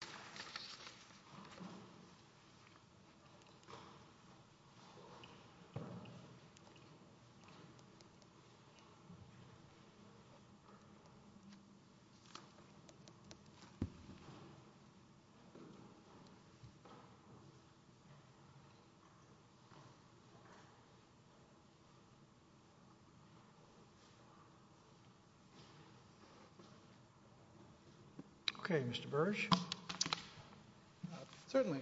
Recovery on March 22, 1933 Mr. Burch Certainly,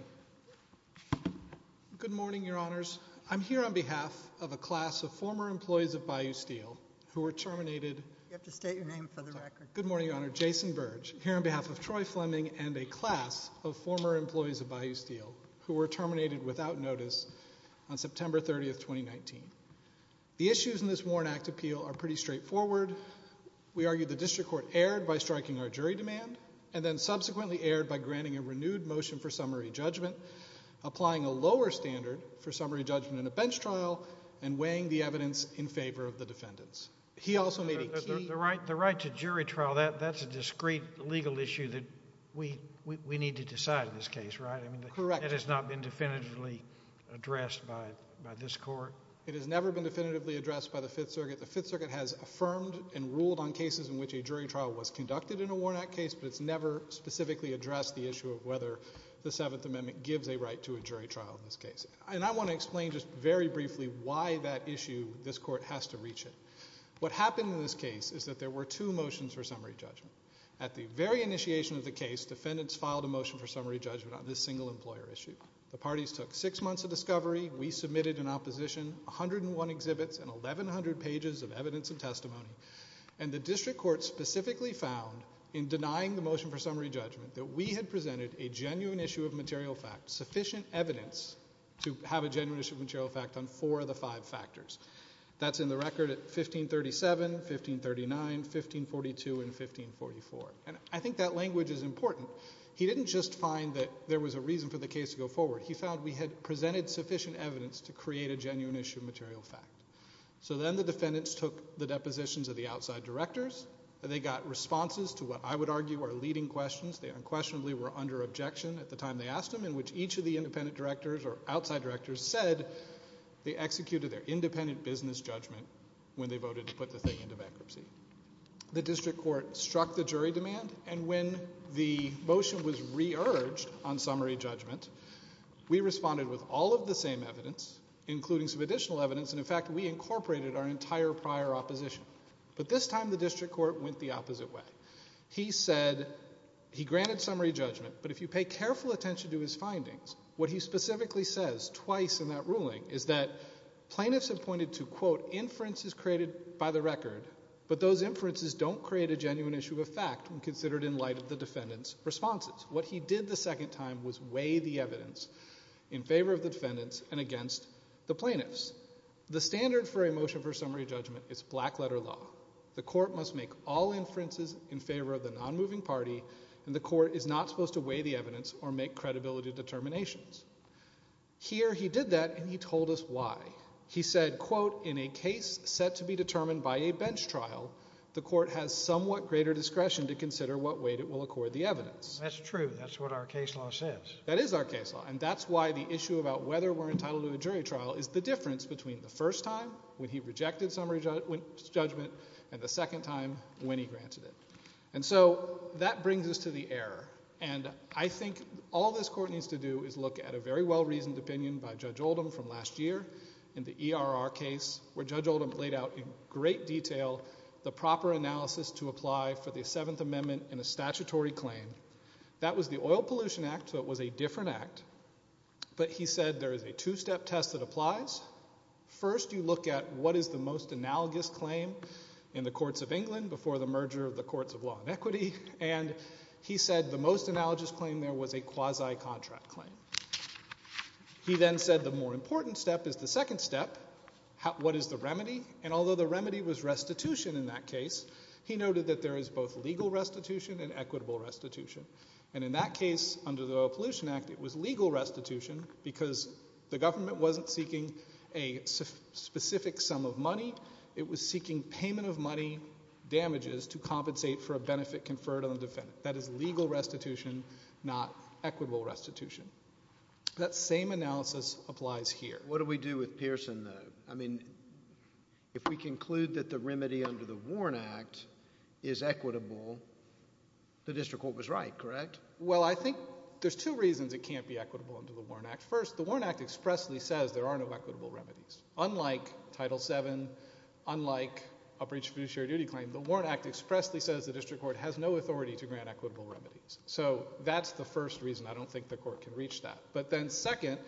good morning, your honors. I'm here on behalf of a class of former employees of Bayou Steel who were terminated. You have to state your name for the record. Good morning, your honor. Jason Burge, here on behalf of Troy Fleming and a class of former employees of Bayou Steel who were terminated without notice on September 30th, 2019. The issues in this Warren Act appeal are pretty straightforward. We argue the district court erred by striking our jury demand and then granting a renewed motion for summary judgment, applying a lower standard for summary judgment in a bench trial, and weighing the evidence in favor of the defendants. He also made a key... The right to jury trial, that's a discreet legal issue that we need to decide in this case, right? Correct. It has not been definitively addressed by this court. It has never been definitively addressed by the Fifth Circuit. The Fifth Circuit has affirmed and ruled on cases in which a jury trial was conducted in a Warren Act case, but it's never specifically addressed the issue of whether the Seventh Amendment gives a right to a jury trial in this case. And I want to explain just very briefly why that issue this court has to reach it. What happened in this case is that there were two motions for summary judgment. At the very initiation of the case, defendants filed a motion for summary judgment on this single employer issue. The parties took six months of discovery, we submitted in opposition 101 exhibits and 1,100 pages of evidence and testimony, and the district court specifically found in that we had presented a genuine issue of material fact, sufficient evidence, to have a genuine issue of material fact on four of the five factors. That's in the record at 1537, 1539, 1542, and 1544. And I think that language is important. He didn't just find that there was a reason for the case to go forward. He found we had presented sufficient evidence to create a genuine issue of material fact. So then the defendants took the depositions of the outside directors. They got responses to what I would argue are leading questions. They unquestionably were under objection at the time they asked them, in which each of the independent directors or outside directors said they executed their independent business judgment when they voted to put the thing into bankruptcy. The district court struck the jury demand, and when the motion was re-urged on summary judgment, we responded with all of the same evidence, including some additional evidence, and in fact we incorporated our entire prior opposition. But this time the district court went the opposite way. He said he granted summary judgment, but if you pay careful attention to his findings, what he specifically says twice in that ruling is that plaintiffs have pointed to, quote, inferences created by the record, but those inferences don't create a genuine issue of fact when considered in light of the defendants' responses. What he did the second time was weigh the evidence in favor of the defendants and against the plaintiffs. The standard for a motion for summary judgment is black letter law. The court must make all inferences in favor of the non-moving party, and the court is not supposed to weigh the evidence or make credibility determinations. Here he did that, and he told us why. He said, quote, in a case set to be determined by a bench trial, the court has somewhat greater discretion to consider what weight it will accord the evidence. That's true. That's what our case law says. That is our case law, and that's why the issue about whether we're entitled to a jury trial is the difference between the first time, when he rejected summary judgment, and the second time, when he granted it. And so that brings us to the error, and I think all this court needs to do is look at a very well-reasoned opinion by Judge Oldham from last year in the ERR case, where Judge Oldham laid out in great detail the proper analysis to apply for the Seventh Amendment in a statutory claim. That was the Oil Pollution Act, so it was a different act, but he said there is a two-step test that applies. First, you look at what is the most analogous claim in the courts of England before the merger of the courts of law and equity, and he said the most analogous claim there was a quasi-contract claim. He then said the more important step is the second step, what is the remedy? And although the remedy was restitution in that case, he noted that there is both legal restitution and equitable restitution. And in that case, under the Oil Pollution Act, it was legal restitution because the government wasn't seeking a specific sum of money, it was seeking payment of money damages to compensate for a benefit conferred on the defendant. That is legal restitution, not equitable restitution. That same analysis applies here. What do we do with Pearson, though? I mean, if we conclude that the remedy under the Warren Act is equitable, the district court was right, correct? Well, I would argue that the Warren Act, first, the Warren Act expressly says there are no equitable remedies. Unlike Title VII, unlike a breach of fiduciary duty claim, the Warren Act expressly says the district court has no authority to grant equitable remedies. So that's the first reason. I don't think the court can reach that. But then second,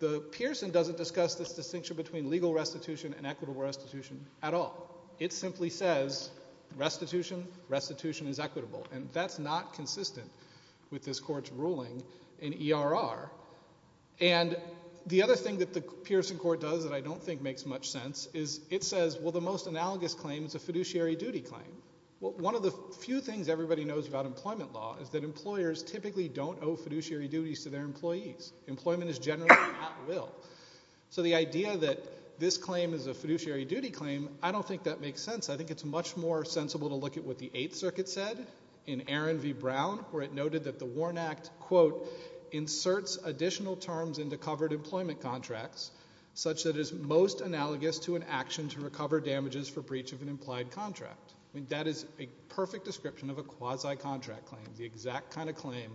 the Pearson doesn't discuss this distinction between legal restitution and equitable restitution at all. It simply says restitution, restitution is equitable. And that's not consistent with this court's ruling in Title VII. And the other thing that the Pearson court does that I don't think makes much sense is it says, well, the most analogous claim is a fiduciary duty claim. Well, one of the few things everybody knows about employment law is that employers typically don't owe fiduciary duties to their employees. Employment is generally at will. So the idea that this claim is a fiduciary duty claim, I don't think that makes sense. I think it's much more sensible to look at what the Eighth Circuit said in Aaron v. Brown, where it noted that the Warren Act, quote, inserts additional terms into covered employment contracts, such that it's most analogous to an action to recover damages for breach of an implied contract. I mean, that is a perfect description of a quasi-contract claim, the exact kind of claim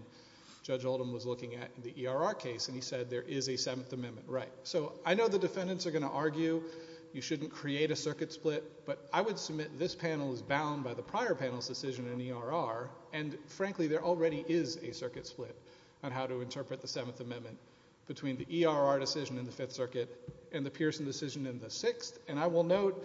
Judge Oldham was looking at in the ERR case, and he said there is a Seventh Amendment. Right. So I know the defendants are going to argue you shouldn't create a circuit split, but I would submit this panel is bound by the prior panel's decision in ERR, and frankly, there already is a circuit split on how to interpret the Seventh Amendment between the ERR decision in the Fifth Circuit and the Pearson decision in the Sixth, and I will note,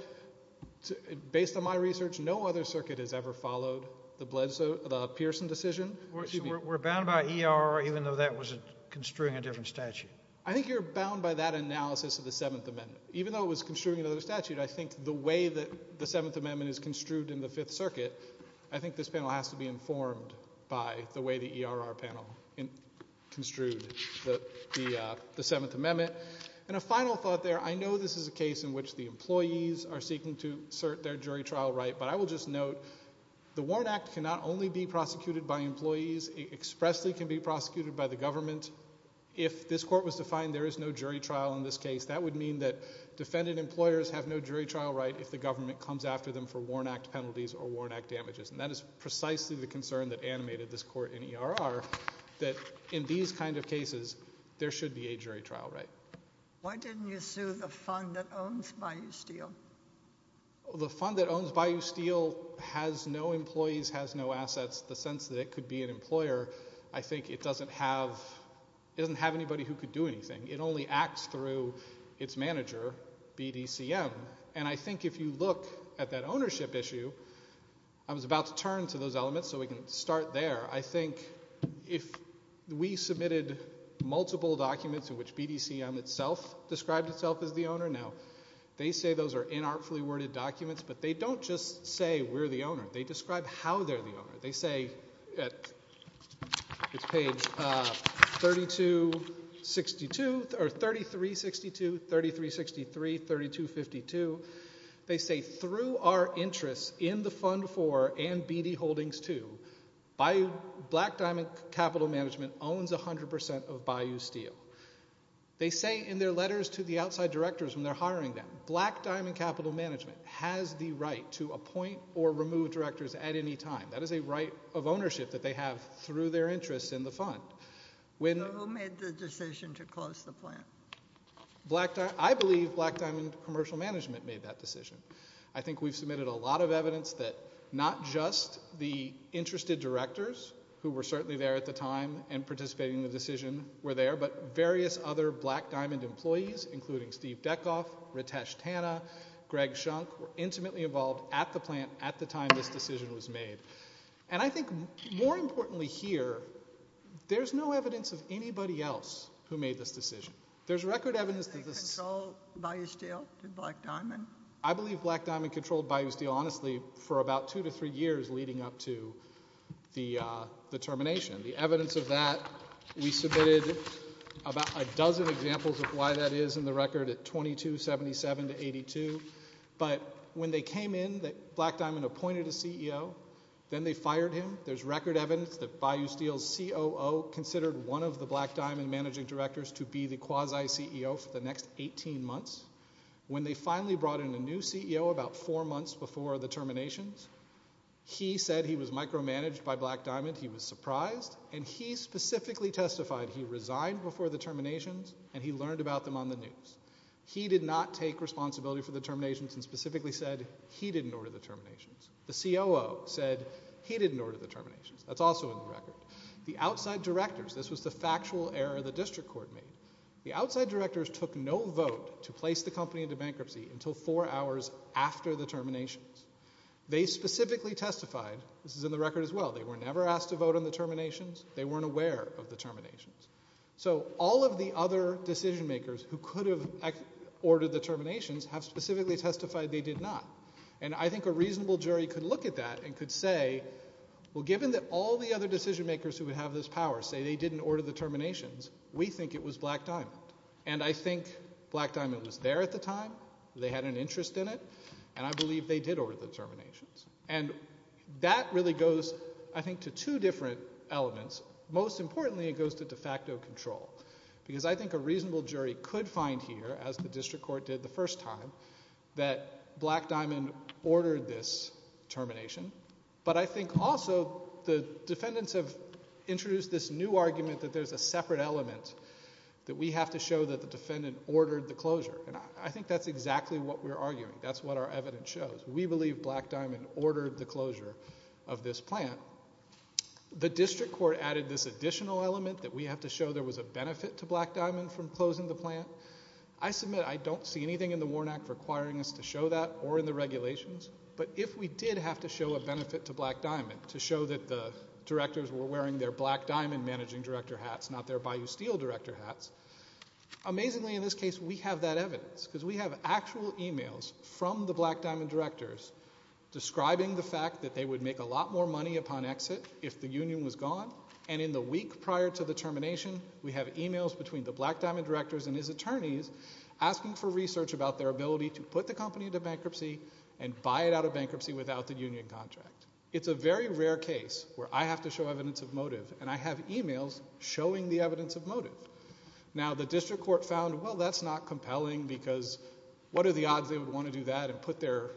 based on my research, no other circuit has ever followed the Pearson decision. We're bound by ERR, even though that was construing a different statute. I think you're bound by that analysis of the Seventh Amendment. Even though it was construing another statute, I think the way that the Seventh Amendment is construed in the Fifth Circuit, I think this panel has to be informed by the way the ERR panel construed the Seventh Amendment. And a final thought there, I know this is a case in which the employees are seeking to assert their jury trial right, but I will just note the Warren Act cannot only be prosecuted by employees. It expressly can be prosecuted by the government. If this court was to find there is no jury trial in this case, that would mean that defendant employers have no jury trial right if the government comes after them for Warren Act penalties or Warren Act damages. And that is precisely the concern that animated this court in ERR, that in these kind of cases, there should be a jury trial right. Why didn't you sue the fund that owns Bayou Steel? The fund that owns Bayou Steel has no employees, has no assets. The sense that it could be an employer, I think it doesn't have anybody who could do anything. It only acts through its manager, BDCM. And I think if you look at that ownership issue, I was about to turn to those elements so we can start there. I think if we submitted multiple documents in which BDCM itself described itself as the owner, now they say those are inartfully worded documents, but they don't just say we're the owner. They describe how they're the owner. They say, it's page 3262, or 3362, 3363, 3252, they say through our interests in the fund for and BD Holdings 2, Black Diamond Capital Management owns 100% of Bayou Steel. They say in their letters to the outside directors when they're hiring them, Black Diamond Capital Management has the right to appoint or remove directors at any time. That is a right of ownership that they have through their interests in the fund. Who made the decision to close the plant? I believe Black Diamond Commercial Management made that decision. I think we've submitted a lot of evidence that not just the interested directors who were certainly there at the time and participating in the decision were there, but various other Black Diamond employees, including Steve Dekhoff, Ritesh Tanna, Greg Shunk, were intimately involved at the plant at the time this decision was made. And I think more importantly here, there's no evidence of anybody else who made this decision. There's record evidence that this... Did they control Bayou Steel? Did Black Diamond? I believe Black Diamond controlled Bayou Steel, honestly, for about two to three years leading up to the termination. The evidence of that, we submitted about a dozen examples of why that is in the record at 2277 to 82. But when they came in, Black Diamond appointed a CEO. Then they fired him. There's record evidence that Bayou Steel's COO considered one of the Black Diamond managing directors to be the quasi-CEO for the next 18 months. When they finally brought in a new CEO about four months before the terminations, he said he was micromanaged by Black Diamond. He was surprised. And he specifically testified he resigned before the terminations and he learned about them on the news. He did not take responsibility for the terminations and specifically said he didn't order the terminations. The COO said he didn't order the terminations. That's also in the record. The outside directors, this was the factual error the district court made. The outside directors took no vote to place the company into bankruptcy until four hours after the terminations. They specifically testified, this is in the record as well, they were never asked to vote on the terminations. They weren't aware of the terminations. So all of the other decision makers who could have ordered the terminations have specifically testified they did not. And I think a reasonable jury could look at that and could say, well, given that all the other decision makers who would have this power say they didn't order the terminations, we think it was Black Diamond. And I think Black Diamond was there at the time. They had an interest in it. And I believe they did order the terminations. And that really goes, I think, to two different elements. Most importantly, it goes to de facto control. Because I think a reasonable jury could find here, as the district court did the first time, that Black Diamond ordered this termination. But I think also the defendants have introduced this new argument that there's a separate element that we have to show that the defendant ordered the closure. And I think that's exactly what we're arguing. That's what our evidence shows. We believe Black Diamond ordered the closure of this plant. The district court added this additional element that we have to show there was a benefit to Black Diamond from closing the plant. I submit I don't see anything in the Warnack requiring us to show that or in the regulations. But if we did have to show a benefit to Black Diamond to show that the directors were wearing their Black Diamond managing director hats, not their Bayou Steel director hats, amazingly in this case, we have that evidence. Because we have actual emails from the Black Diamond directors describing the fact that they would make a lot more money upon exit if the union was gone. And in the week prior to the termination, we have emails between the Black Diamond directors and his attorneys asking for research about their ability to put the company into bankruptcy and buy it out of bankruptcy without the union contract. It's a very rare case where I have to show evidence of motive. And I have emails showing the evidence of motive. Now, the district court found, well, that's not compelling because what are the odds they would want to do that and put their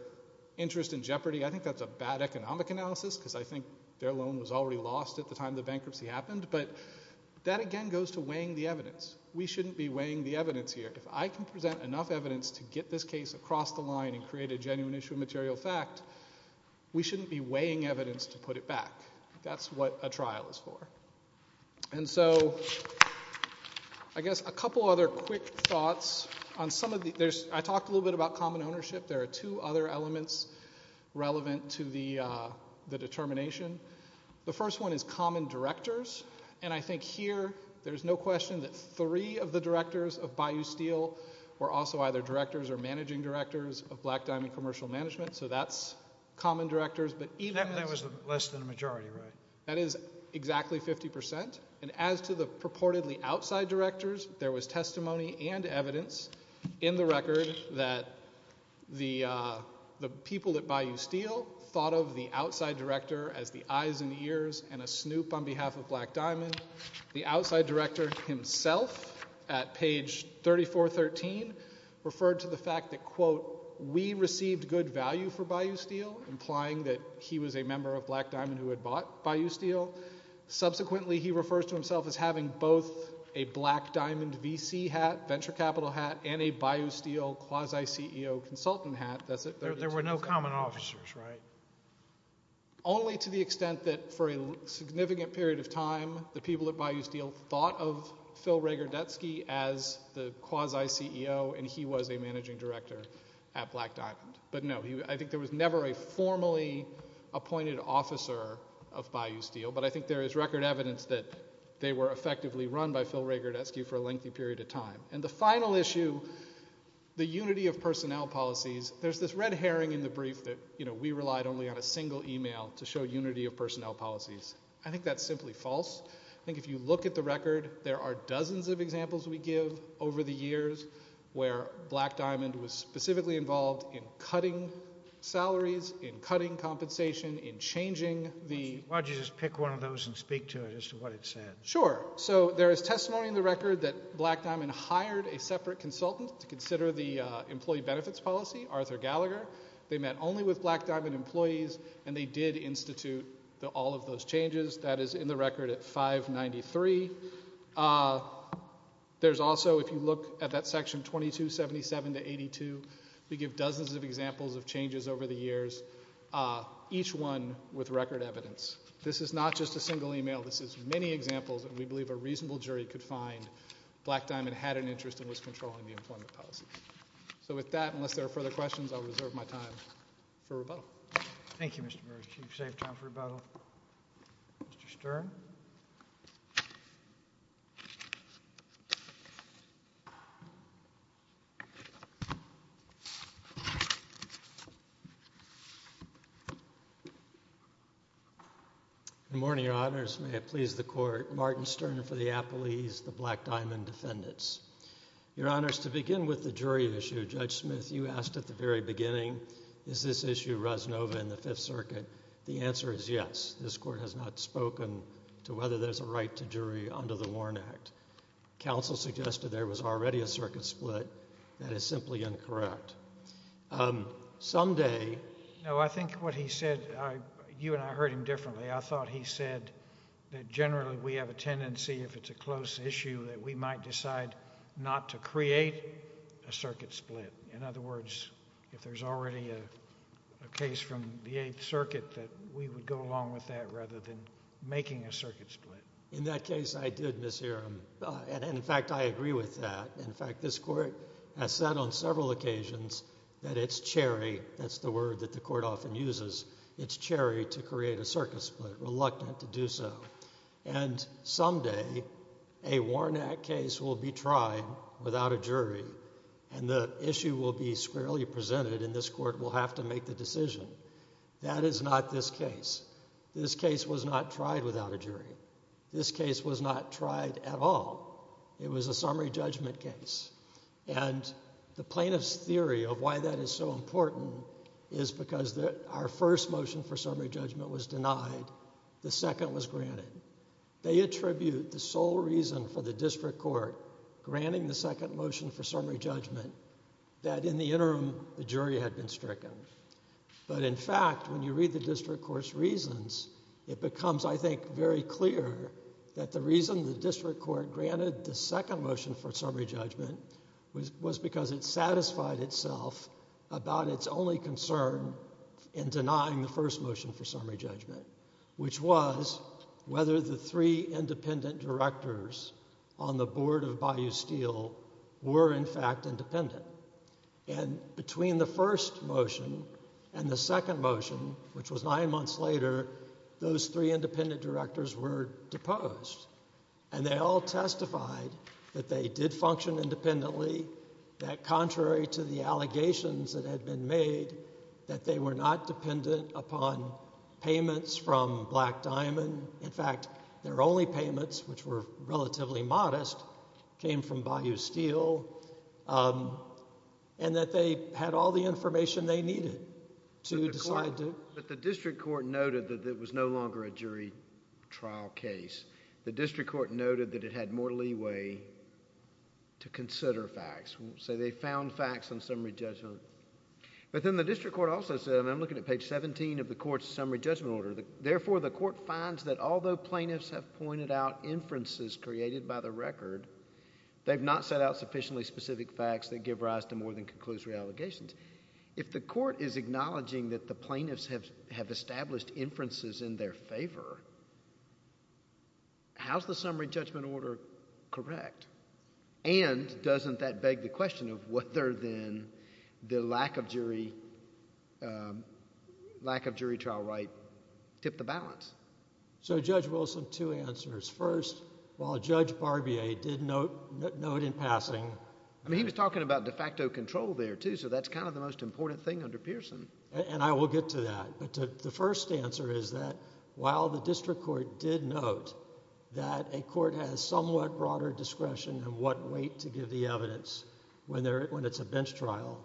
interest in jeopardy? I think that's a bad economic analysis because I think their loan was already lost at the time the bankruptcy happened. But that again goes to weighing the evidence. We shouldn't be weighing the evidence here. If I can present enough evidence to get this case across the line and create a genuine issue of material fact, we shouldn't be weighing evidence to put it back. That's what a trial is for. And so I guess a couple other quick thoughts. I talked a little bit about common ownership. There are two other elements relevant to the determination. The first one is common directors. And I think here, there's no question that three of the directors of Bayou Steel were also either directors or managing directors of Black Diamond Commercial Management. So that's common directors. But even that was less than a majority, right? That is exactly 50%. And as to the purportedly outside directors, there was testimony and evidence in the record that the people at Bayou Steel thought of the outside director as the eyes and ears and a snoop on behalf of Black Diamond. The outside director himself at page 3413 referred to the fact that, quote, we received good value for Bayou Steel, implying that he was a member of Black Diamond who had bought Bayou Steel. Subsequently, he refers to himself as having both a Black Diamond VC hat, venture capital hat, and a Bayou Steel quasi-CEO consultant hat. That's it. There were no common officers, right? Only to the extent that for a significant period of time, the people at Bayou Steel thought of Phil Regardetzky as the quasi-CEO and he was a managing director at Black Diamond. But no, I think there was never a formally appointed officer of Bayou Steel, but I think there is record evidence that they were effectively run by Phil Regardetzky for a lengthy period of time. And the final issue, the unity of personnel policies, there's this red herring in the brief that, you know, we relied only on a single email to show unity of personnel policies. I think that's simply false. I think if you look at the record, there are dozens of examples we give over the years where Black Diamond has changed salaries, in cutting compensation, in changing the... Why don't you just pick one of those and speak to it as to what it said. Sure. So there is testimony in the record that Black Diamond hired a separate consultant to consider the employee benefits policy, Arthur Gallagher. They met only with Black Diamond employees and they did institute all of those changes. That is in the record at 593. There's also, if you look at that section 2277 to 82, we give dozens of examples of the years, each one with record evidence. This is not just a single email. This is many examples that we believe a reasonable jury could find Black Diamond had an interest in was controlling the employment policy. So with that, unless there are further questions, I'll reserve my time for rebuttal. Thank you, Mr. Bursch. You've saved time for rebuttal. Mr. Stern? Good morning, Your Honors. May it please the Court. Martin Stern for the Appellees, the Black Diamond Defendants. Your Honors, to begin with the jury issue, Judge Smith, you mentioned this issue, Rosanova, in the Fifth Circuit. The answer is yes. This Court has not spoken to whether there's a right to jury under the Warren Act. Counsel suggested there was already a circuit split. That is simply incorrect. Someday... No, I think what he said, you and I heard him differently. I thought he said that generally we have a tendency, if it's a close issue, that we might decide not to create a circuit split. In other words, if there's already a case from the Eighth Circuit, that we would go along with that rather than making a circuit split. In that case, I did mishear him. And in fact, I agree with that. In fact, this Court has said on several occasions that it's cherry, that's the word that the Court often uses, it's cherry to create a circuit split, reluctant to do so. And someday, a Warren Act case will be tried without a jury, and the issue will be squarely presented, and this Court will have to make the decision. That is not this case. This case was not tried without a jury. This case was not tried at all. It was a summary judgment case. And the plaintiff's theory of why that is so important is because our first motion for summary judgment was denied. The second was granted. They attribute the sole reason for the District Court granting the second motion for summary judgment that in the interim, the jury had been stricken. But in fact, when you read the District Court's reasons, it becomes, I think, very clear that the reason the District Court granted the second motion for summary judgment was because it satisfied itself about its only concern in denying the first motion for summary judgment, which was whether the three independent directors on the board of Bayou Steel were in fact independent. And between the first motion and the second motion, which was nine months later, those three independent directors were deposed. And they all testified that they did function independently, that contrary to the allegations that had been made, that they were not dependent upon payments from Black Diamond. In fact, their only payments, which were relatively modest, came from Bayou Steel, and that they had all the information they needed to decide to— But the District Court noted that it was no longer a jury trial case. The District Court noted that it had more leeway to consider facts. So they found facts on summary judgment. But then the District Court also said—and I'm looking at page 17 of the court's summary judgment order—therefore, the court finds that although plaintiffs have pointed out inferences created by the record, they've not set out sufficiently specific facts that give rise to more than conclusory allegations. If the court is acknowledging that the plaintiffs have established inferences in their favor, how's the summary judgment order correct? And doesn't that beg the question of whether, then, the lack of jury—lack of jury trial right tipped the balance? So Judge Wilson, two answers. First, while Judge Barbier did note in passing— I mean, he was talking about de facto control there, too, so that's kind of the most important thing under Pearson. And I will get to that. But the first answer is that while the District Court did note that a court has somewhat broader discretion in what weight to give the evidence when it's a bench trial,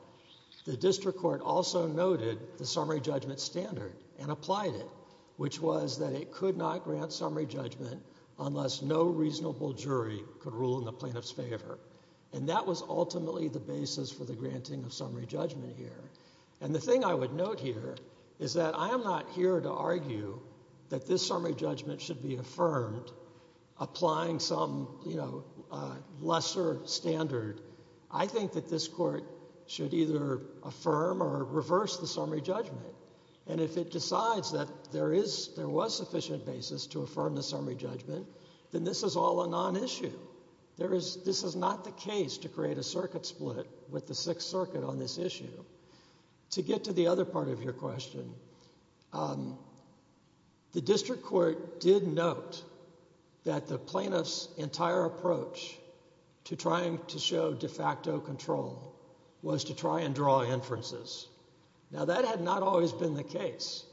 the District Court also noted the summary judgment standard and applied it, which was that it could not grant summary judgment unless no reasonable jury could rule in the plaintiff's favor. And that was ultimately the basis for the granting of summary judgment here. And the thing I would note here is that I am not here to argue that this summary judgment should be affirmed, applying some, you know, lesser standard. I think that this court should either affirm or reverse the summary judgment. And if it decides that there is—there was sufficient basis to affirm the summary judgment, then this is all a non-issue. There is—this is not the case to create a circuit split with the Sixth Circuit on this issue. To get to the other part of your question, the District Court did note that the plaintiff's entire approach to trying to show de facto control was to try and draw inferences. Now, that had not always been the case.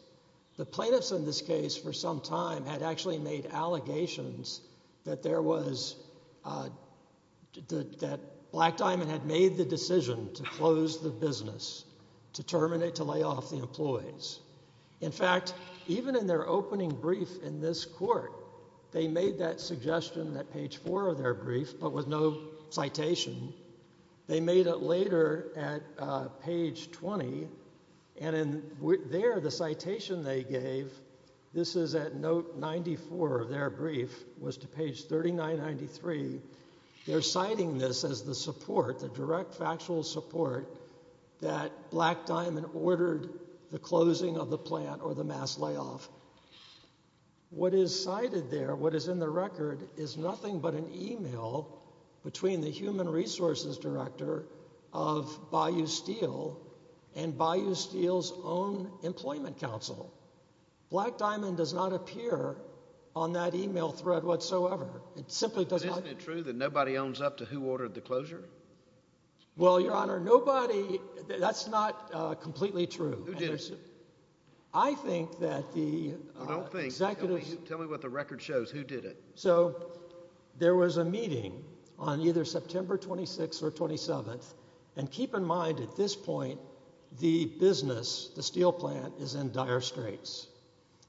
The plaintiffs in this case for some time had actually made allegations that there was—that Black Diamond had made the decision to close the business, to terminate, to lay off the employees. In fact, even in their opening brief in this court, they made that suggestion at page 4 of their brief, but with no citation. They made it later at page 20. And in there, the citation they gave—this is at note 94 of their brief—was to page 3993. They're citing this as the support, the direct factual support, that Black Diamond ordered the closing of the plant or the mass layoff. What is cited there, what is in the record, is nothing but an email between the human resources director of Bayou Steel and Bayou Steel's own employment council. Black Diamond does not appear on that email thread whatsoever. It simply does not— Isn't it true that nobody owns up to who ordered the closure? Well, Your Honor, nobody—that's not completely true. Who did it? I think that the executives— I don't think. Tell me what the record shows. Who did it? So there was a meeting on either September 26th or 27th, and keep in mind at this point, the business, the steel plant, is in dire straits.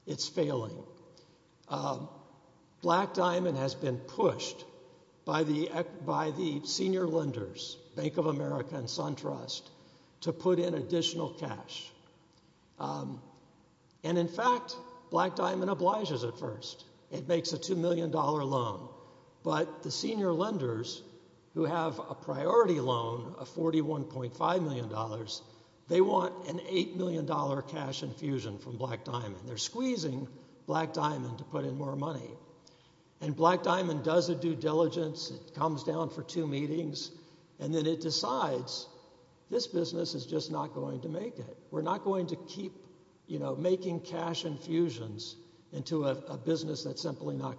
It's failing. Black Diamond has been pushed by the senior lenders, Bank of America and SunTrust, to put in additional cash. And in fact, Black Diamond obliges at first. It makes a $2 million loan. But the senior lenders who have a priority loan of $41.5 million, they want an $8 million cash infusion from Black Diamond. They're squeezing Black Diamond to put in more money. And Black Diamond does a due diligence. It comes down for two meetings, and then it decides this business is just not going to make it. We're not going to keep making cash infusions into a business that's going to fail. So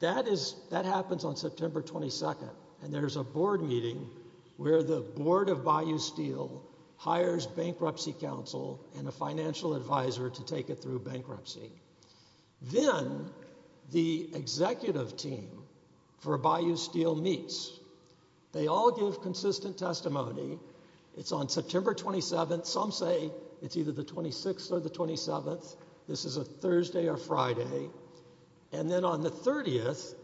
there's a meeting on September 22nd, and there's a board meeting where the board of Bayou Steel hires bankruptcy counsel and a financial advisor to take it through bankruptcy. Then the executive team for Bayou Steel meets. They all give consistent testimony. It's on September 27th. Some say it's either the 26th or the 27th. This is a Thursday or Friday. And then on the 30th,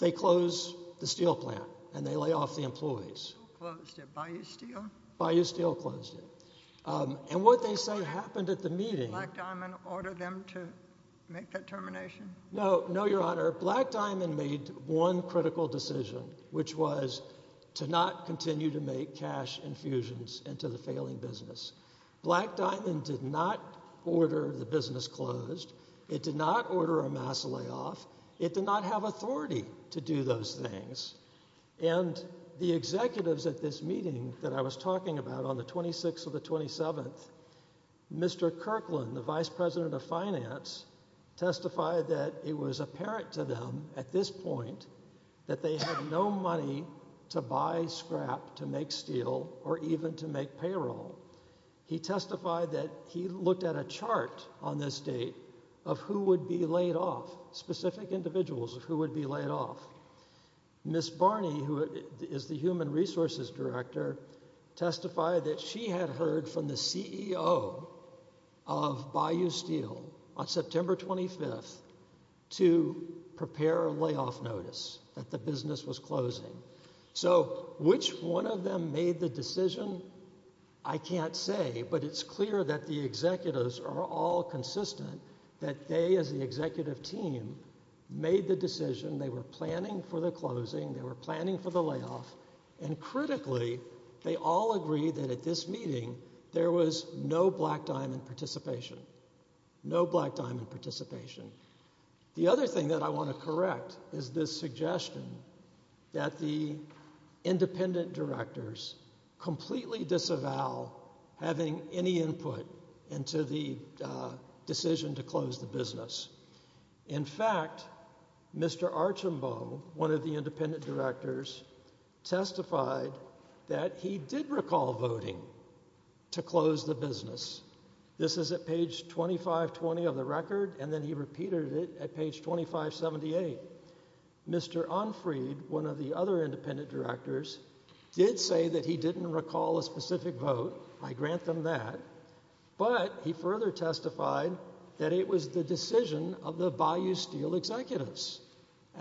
they close the steel plant, and they lay off the employees. Who closed it? Bayou Steel? Bayou Steel closed it. And what they say happened at the meeting— Did Black Diamond order them to make that termination? No. No, Your Honor. Black Diamond made one critical decision, which was to not continue to make cash infusions into the failing business. Black Diamond did not order the business closed. It did not order a mass layoff. It did not have authority to do those things. And the executives at this meeting that I was talking about on the 26th or the 27th, Mr. Kirkland, the vice president of finance, testified that it was apparent to them at this point that they had no money to buy scrap to make steel or even to make payroll. He testified that he looked at a chart on this date of who would be laid off, specific individuals of who would be laid off. Ms. Barney, who is the human resources director, testified that she had heard from the CEO of Bayou Steel on September 25th to prepare a layoff notice that the business was closing. So, which one of them made the decision? I can't say, but it's clear that the executives are all consistent that they, as the executive team, made the decision. They were planning for the closing. They were planning for the layoff. And critically, they all agree that at this meeting, there was no Black Diamond participation. No Black Diamond participation. The other thing that I want to correct is this suggestion that the independent directors completely disavow having any input into the decision to close the business. In fact, Mr. Archambault, one of the independent directors, testified that he did recall voting to close the business. This is at page 2520 of the record, and then he repeated it at page 2578. Mr. Unfried, one of the other independent directors, did say that he didn't recall a specific vote. I grant them that. But he further testified that it was the decision of the Bayou Steel executives,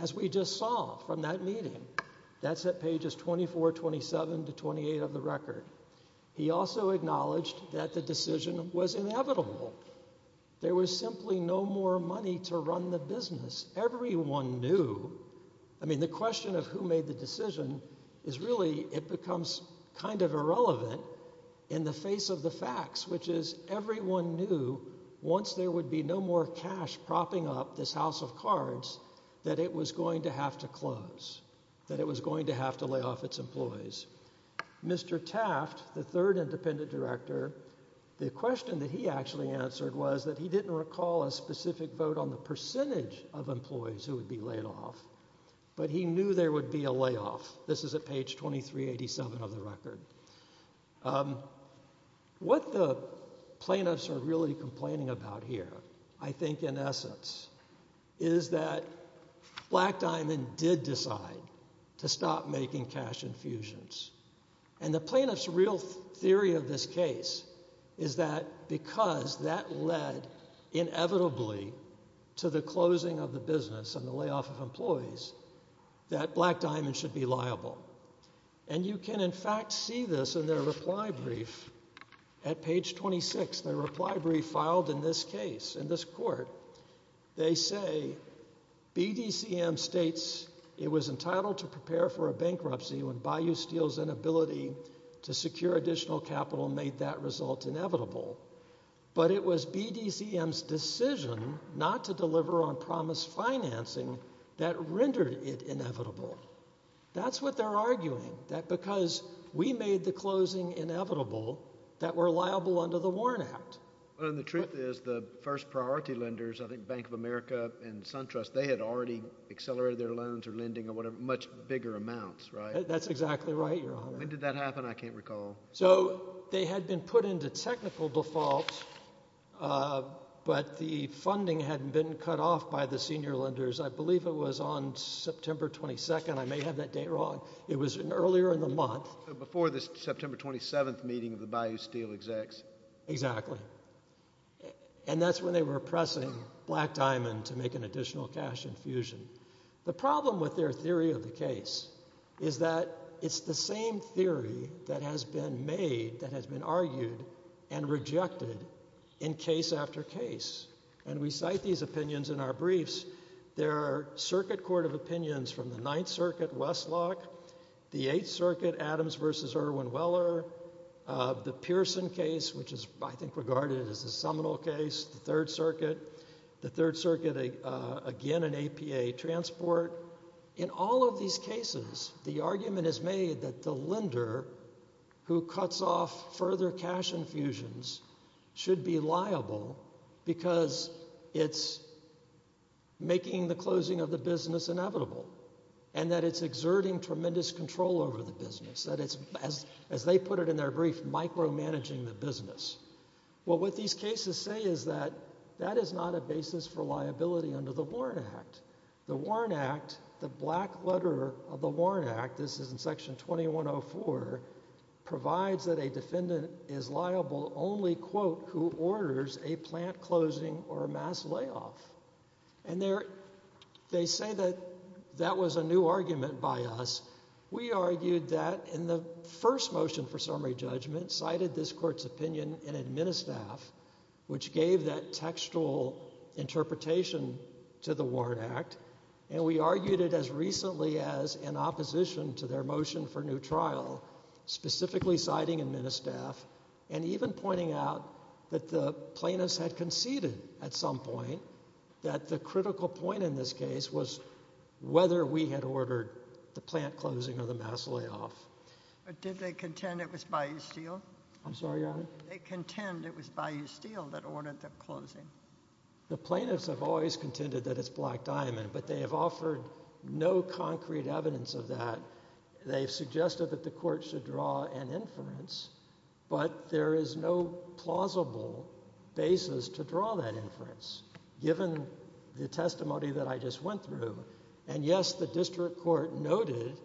as we just saw from that meeting. That's at pages 2427 to 28 of the record. He also acknowledged that the decision was inevitable. There was simply no more money to run the business. Everyone knew. I mean, the question of who made the decision is really, it becomes kind of irrelevant in the face of the facts, which is everyone knew once there would be no more cash propping up this house of cards, that it was going to have to close, that it was going to have to lay off its employees. Mr. Taft, the third independent director, the question that he actually answered was that he didn't recall a specific vote on the percentage of employees who would be laid off, but he knew there would be a layoff. This is at page 2387 of the record. What the plaintiffs are really complaining about here, I think in essence, is that Black Diamond did decide to stop making cash infusions. And the plaintiffs' real theory of this case is that because that led inevitably to the closing of the business and the layoff of employees, that Black Diamond should be liable. And you can, in fact, see this in their reply brief at page 26. Their reply brief filed in this case, in this court. They say, BDCM states it was entitled to prepare for a bankruptcy when Bayou Steel's inability to secure additional capital made that result inevitable. But it was BDCM's decision not to deliver on promise financing that rendered it inevitable. That's what they're arguing, that because we made the closing inevitable, that we're liable under the Warren Act. Well, and the truth is, the first priority lenders, I think Bank of America and SunTrust, they had already accelerated their loans or lending or whatever, much bigger amounts, right? That's exactly right, Your Honor. When did that happen? I can't recall. So, they had been put into technical default, but the funding hadn't been cut off by the second. I may have that date wrong. It was earlier in the month. Before this September 27th meeting of the Bayou Steel execs. Exactly. And that's when they were pressing Black Diamond to make an additional cash infusion. The problem with their theory of the case is that it's the same theory that has been made, that has been argued and rejected in case after case. And we cite these opinions in our briefs. There are circuit court of opinions from the Ninth Circuit, Westlock, the Eighth Circuit, Adams versus Erwin Weller, the Pearson case, which is, I think, regarded as a seminal case, the Third Circuit, the Third Circuit, again, an APA transport. In all of these cases, the argument is made that the lender who cuts off further cash infusions should be liable because it's making the closing of the business inevitable. And that it's exerting tremendous control over the business. That it's, as they put it in their brief, micromanaging the business. Well, what these cases say is that that is not a basis for liability under the Warren Act. The Warren Act, the black letter of the Warren Act, this is in Section 2104, provides that a defendant is liable only, quote, who orders a plant closing or a mass layoff. And they say that that was a new argument by us. We argued that in the first motion for summary judgment, cited this court's opinion in Administaff, which gave that textual interpretation to the Warren Act, and we argued it as recently as in opposition to their motion for new trial, specifically citing Administaff, and even pointing out that the plaintiffs had conceded at some point that the critical point in this case was whether we had ordered the plant closing or the mass layoff. But did they contend it was Bayou Steel? I'm sorry, Your Honor? Did they contend it was Bayou Steel that ordered the closing? The plaintiffs have always contended that it's Black Diamond, but they have offered no concrete evidence of that. They've suggested that the court should draw an inference, but there is no plausible basis to draw that inference, given the testimony that I just went through. And, yes, the district court noted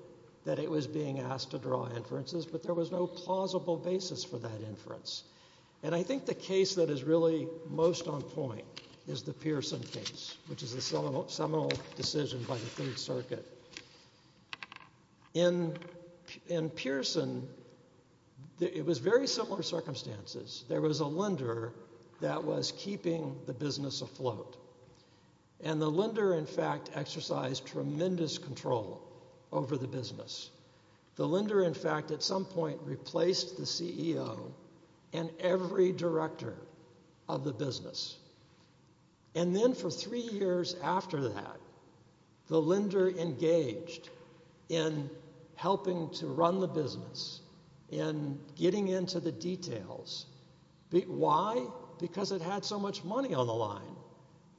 that it was being asked to draw inferences, but there was no plausible basis for that inference. And I think the case that is really most on point is the Pearson case, which is a seminal decision by the Third Circuit. In Pearson, it was very similar circumstances. There was a lender that was keeping the business afloat, and the lender, in fact, exercised tremendous control over the business. The lender, in fact, at some point replaced the CEO and every director of the business. And then for three years after that, the lender engaged in helping to run the business, in getting into the details. Why? Because it had so much money on the line.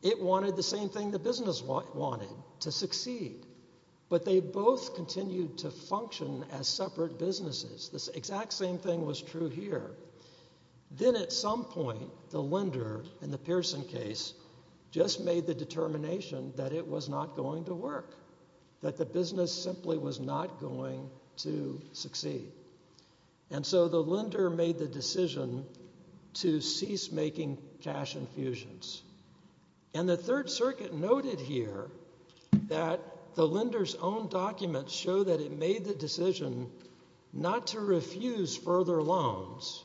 It wanted the same thing the business wanted, to succeed. But they both continued to function as separate businesses. The exact same thing was true here. Then at some point, the lender, in the Pearson case, just made the determination that it was not going to work, that the business simply was not going to succeed. And so the lender made the decision to cease making cash infusions. And the Third Circuit noted here that the lender's own documents show that it made the decision not to refuse further loans,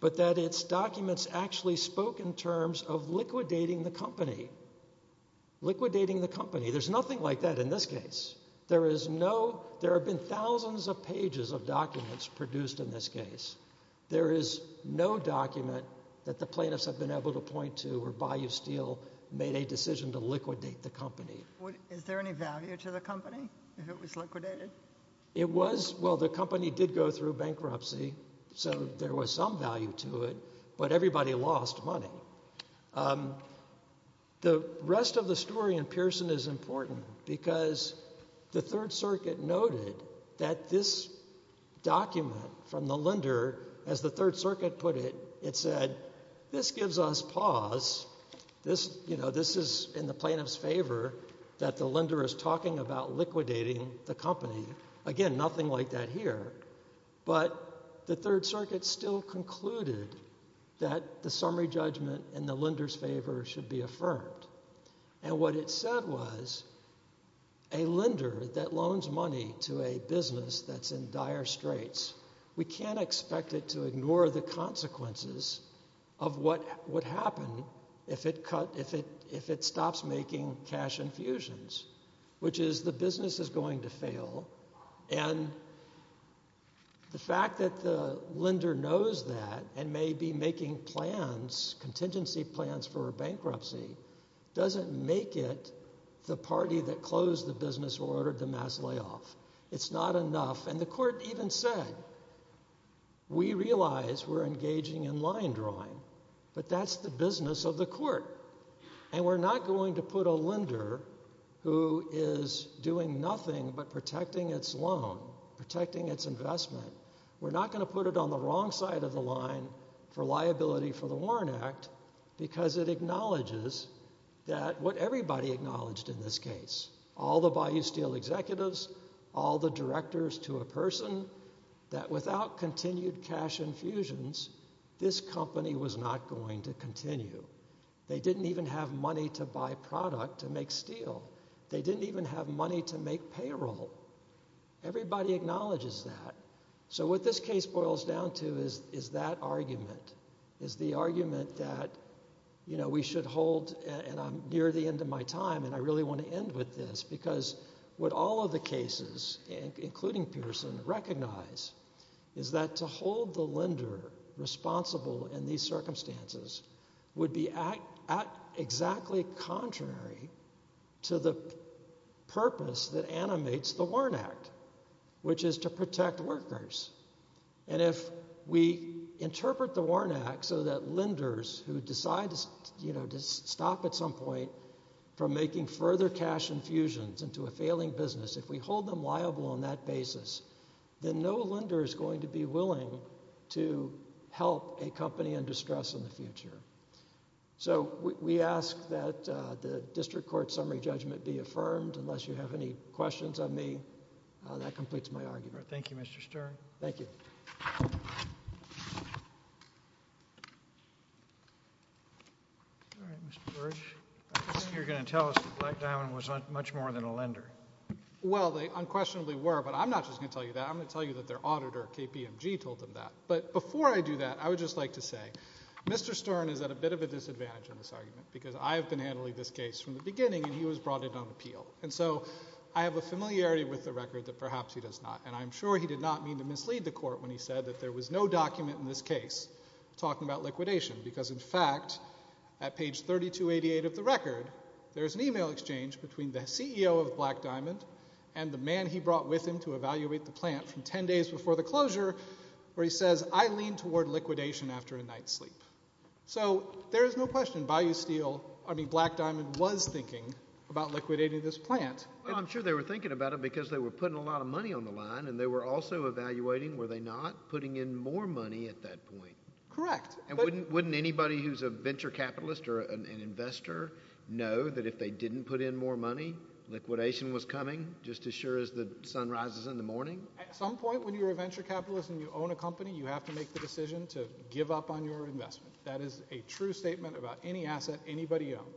but that its documents actually spoke in terms of liquidating the company. Liquidating the company. There's nothing like that in this case. There have been thousands of pages of documents produced in this case. There is no document that the plaintiffs have been able to point to where Bayou Steel made a decision to liquidate the company. Is there any value to the company if it was liquidated? Well, the company did go through bankruptcy, so there was some value to it, but everybody lost money. The rest of the story in Pearson is important, because the Third Circuit noted that this document from the lender, as the Third Circuit put it, it said, this gives us pause, this is in the plaintiff's favor, that the lender is talking about liquidating the company. Again, nothing like that here. But the Third Circuit still concluded that the summary judgment in the lender's favor should be affirmed. And what it said was, a lender that loans money to a business that's in dire straits, we can't expect it to ignore the consequences of what would happen if it stops making cash infusions, which is the business is going to fail. And the fact that the lender knows that and may be making plans, contingency plans for bankruptcy, doesn't make it the party that closed the business or ordered the mass layoff. It's not enough. And the court even said, we realize we're engaging in line drawing, but that's the business of the court, and we're not going to put a lender who is doing nothing but protecting its loan, protecting its investment, we're not going to put it on the wrong side of the line for liability for the Warren Act, because it acknowledges that what everybody acknowledged in this case, all the Bayou Steel executives, all the directors to a person, that without continued cash infusions, this company was not going to continue. They didn't even have money to buy product to make steel. They didn't even have money to make payroll. Everybody acknowledges that. So what this case boils down to is that argument, is the argument that we should hold, and I'm near the end of my time, and I really want to end with this, because what all of the cases, including Pearson, recognize, is that to hold the lender responsible in these circumstances would be exactly contrary to the purpose that animates the Warren Act, which is to protect workers. And if we interpret the Warren Act so that lenders who decide to stop at some point from making further cash infusions into a failing business, if we hold them liable on that basis, then no lender is going to be willing to help a company in distress in the future. So we ask that the district court summary judgment be affirmed. Unless you have any questions of me, that completes my argument. Thank you, Mr. Stern. Thank you. All right, Mr. Burrage. I think you're going to tell us that Black Diamond was much more than a lender. Well, they unquestionably were, but I'm not just going to tell you that. I'm going to tell you that their auditor, KPMG, told them that. But before I do that, I would just like to say, Mr. Stern is at a bit of a disadvantage in this argument because I have been handling this case from the beginning, and he was brought in on appeal. And so I have a familiarity with the record that perhaps he does not, and I'm sure he did not mean to mislead the court when he said that there was no document in this case talking about liquidation because, in fact, at page 3288 of the record, there is an e-mail exchange between the CEO of Black Diamond and the man he brought with him to evaluate the plant from 10 days before the closure where he says, I lean toward liquidation after a night's sleep. So there is no question Bayou Steel, I mean Black Diamond, was thinking about liquidating this plant. Well, I'm sure they were thinking about it because they were putting a lot of money on the line and they were also evaluating, were they not, putting in more money at that point. Correct. And wouldn't anybody who's a venture capitalist or an investor know that if they didn't put in more money, liquidation was coming just as sure as the sun rises in the morning? At some point when you're a venture capitalist and you own a company, you have to make the decision to give up on your investment. That is a true statement about any asset anybody owns.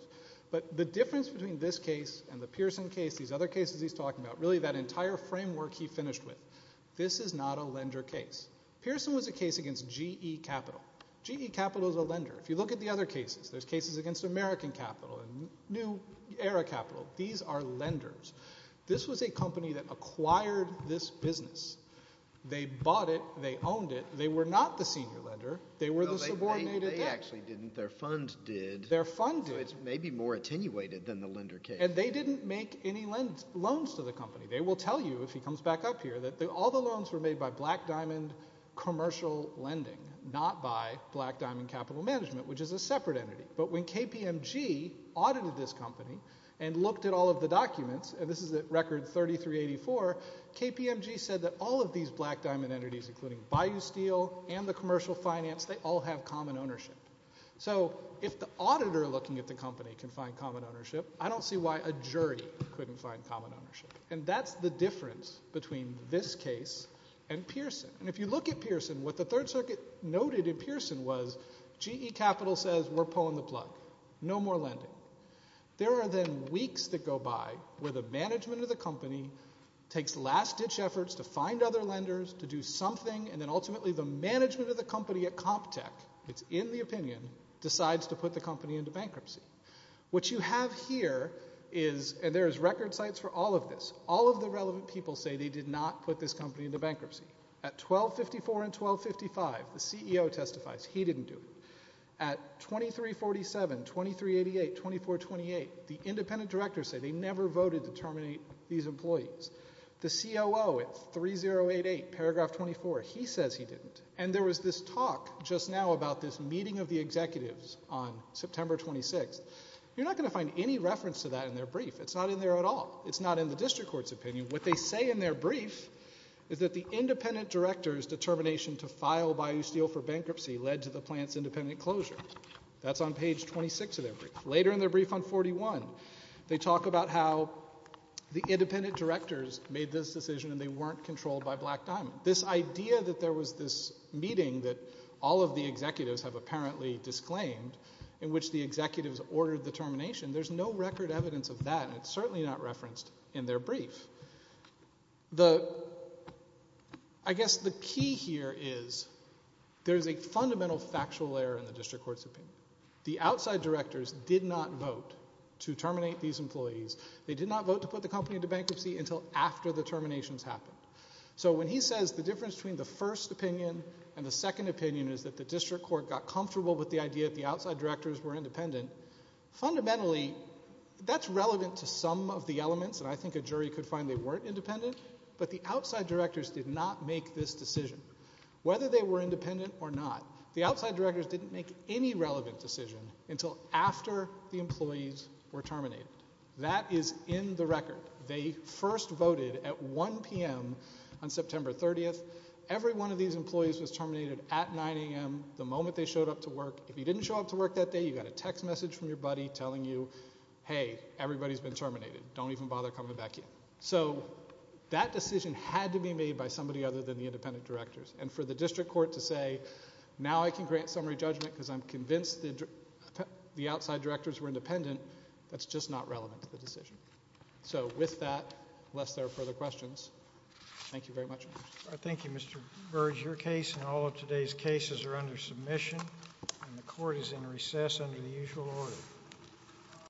But the difference between this case and the Pearson case, these other cases he's talking about, really that entire framework he finished with, this is not a lender case. Pearson was a case against GE Capital. GE Capital is a lender. If you look at the other cases, there's cases against American Capital and New Era Capital. These are lenders. This was a company that acquired this business. They bought it. They owned it. They were not the senior lender. They were the subordinated debt. They actually didn't. Their fund did. Their fund did. So it's maybe more attenuated than the lender case. And they didn't make any loans to the company. They will tell you, if he comes back up here, that all the loans were made by Black Diamond Commercial Lending, not by Black Diamond Capital Management, which is a separate entity. But when KPMG audited this company and looked at all of the documents, and this is at record 3384, KPMG said that all of these Black Diamond entities, including Bayou Steel and the commercial finance, they all have common ownership. So if the auditor looking at the company can find common ownership, I don't see why a jury couldn't find common ownership. And that's the difference between this case and Pearson. And if you look at Pearson, what the Third Circuit noted in Pearson was, GE Capital says we're pulling the plug. No more lending. There are then weeks that go by where the management of the company takes last-ditch efforts to find other lenders, to do something, and then ultimately the management of the company at CompTech, it's in the opinion, decides to put the company into bankruptcy. What you have here is, and there is record sites for all of this, all of the relevant people say they did not put this company into bankruptcy. At 1254 and 1255, the CEO testifies. He didn't do it. At 2347, 2388, 2428, the independent directors say they never voted to terminate these employees. The COO at 3088, paragraph 24, he says he didn't. And there was this talk just now about this meeting of the executives on September 26th. You're not going to find any reference to that in their brief. It's not in there at all. It's not in the district court's opinion. What they say in their brief is that the independent director's determination to file Bayou Steel for bankruptcy led to the plant's independent closure. That's on page 26 of their brief. Later in their brief on 41, they talk about how the independent directors made this decision and they weren't controlled by Black Diamond. This idea that there was this meeting that all of the executives have apparently disclaimed in which the executives ordered the termination, there's no record evidence of that, and it's certainly not referenced in their brief. I guess the key here is there's a fundamental factual error in the district court's opinion. The outside directors did not vote to terminate these employees. They did not vote to put the company into bankruptcy until after the terminations happened. So when he says the difference between the first opinion and the second opinion is that the district court got comfortable with the idea that the outside directors were independent, fundamentally that's relevant to some of the elements, and I think a jury could find they weren't independent, but the outside directors did not make this decision. Whether they were independent or not, the outside directors didn't make any relevant decision until after the employees were terminated. That is in the record. They first voted at 1 p.m. on September 30th. Every one of these employees was terminated at 9 a.m. the moment they showed up to work. If you didn't show up to work that day, you got a text message from your buddy telling you, hey, everybody's been terminated. Don't even bother coming back in. So that decision had to be made by somebody other than the independent directors, and for the district court to say now I can grant summary judgment because I'm convinced the outside directors were independent, that's just not relevant to the decision. So with that, unless there are further questions, thank you very much. Thank you, Mr. Burge. Your case and all of today's cases are under submission, and the court is in recess under the usual order.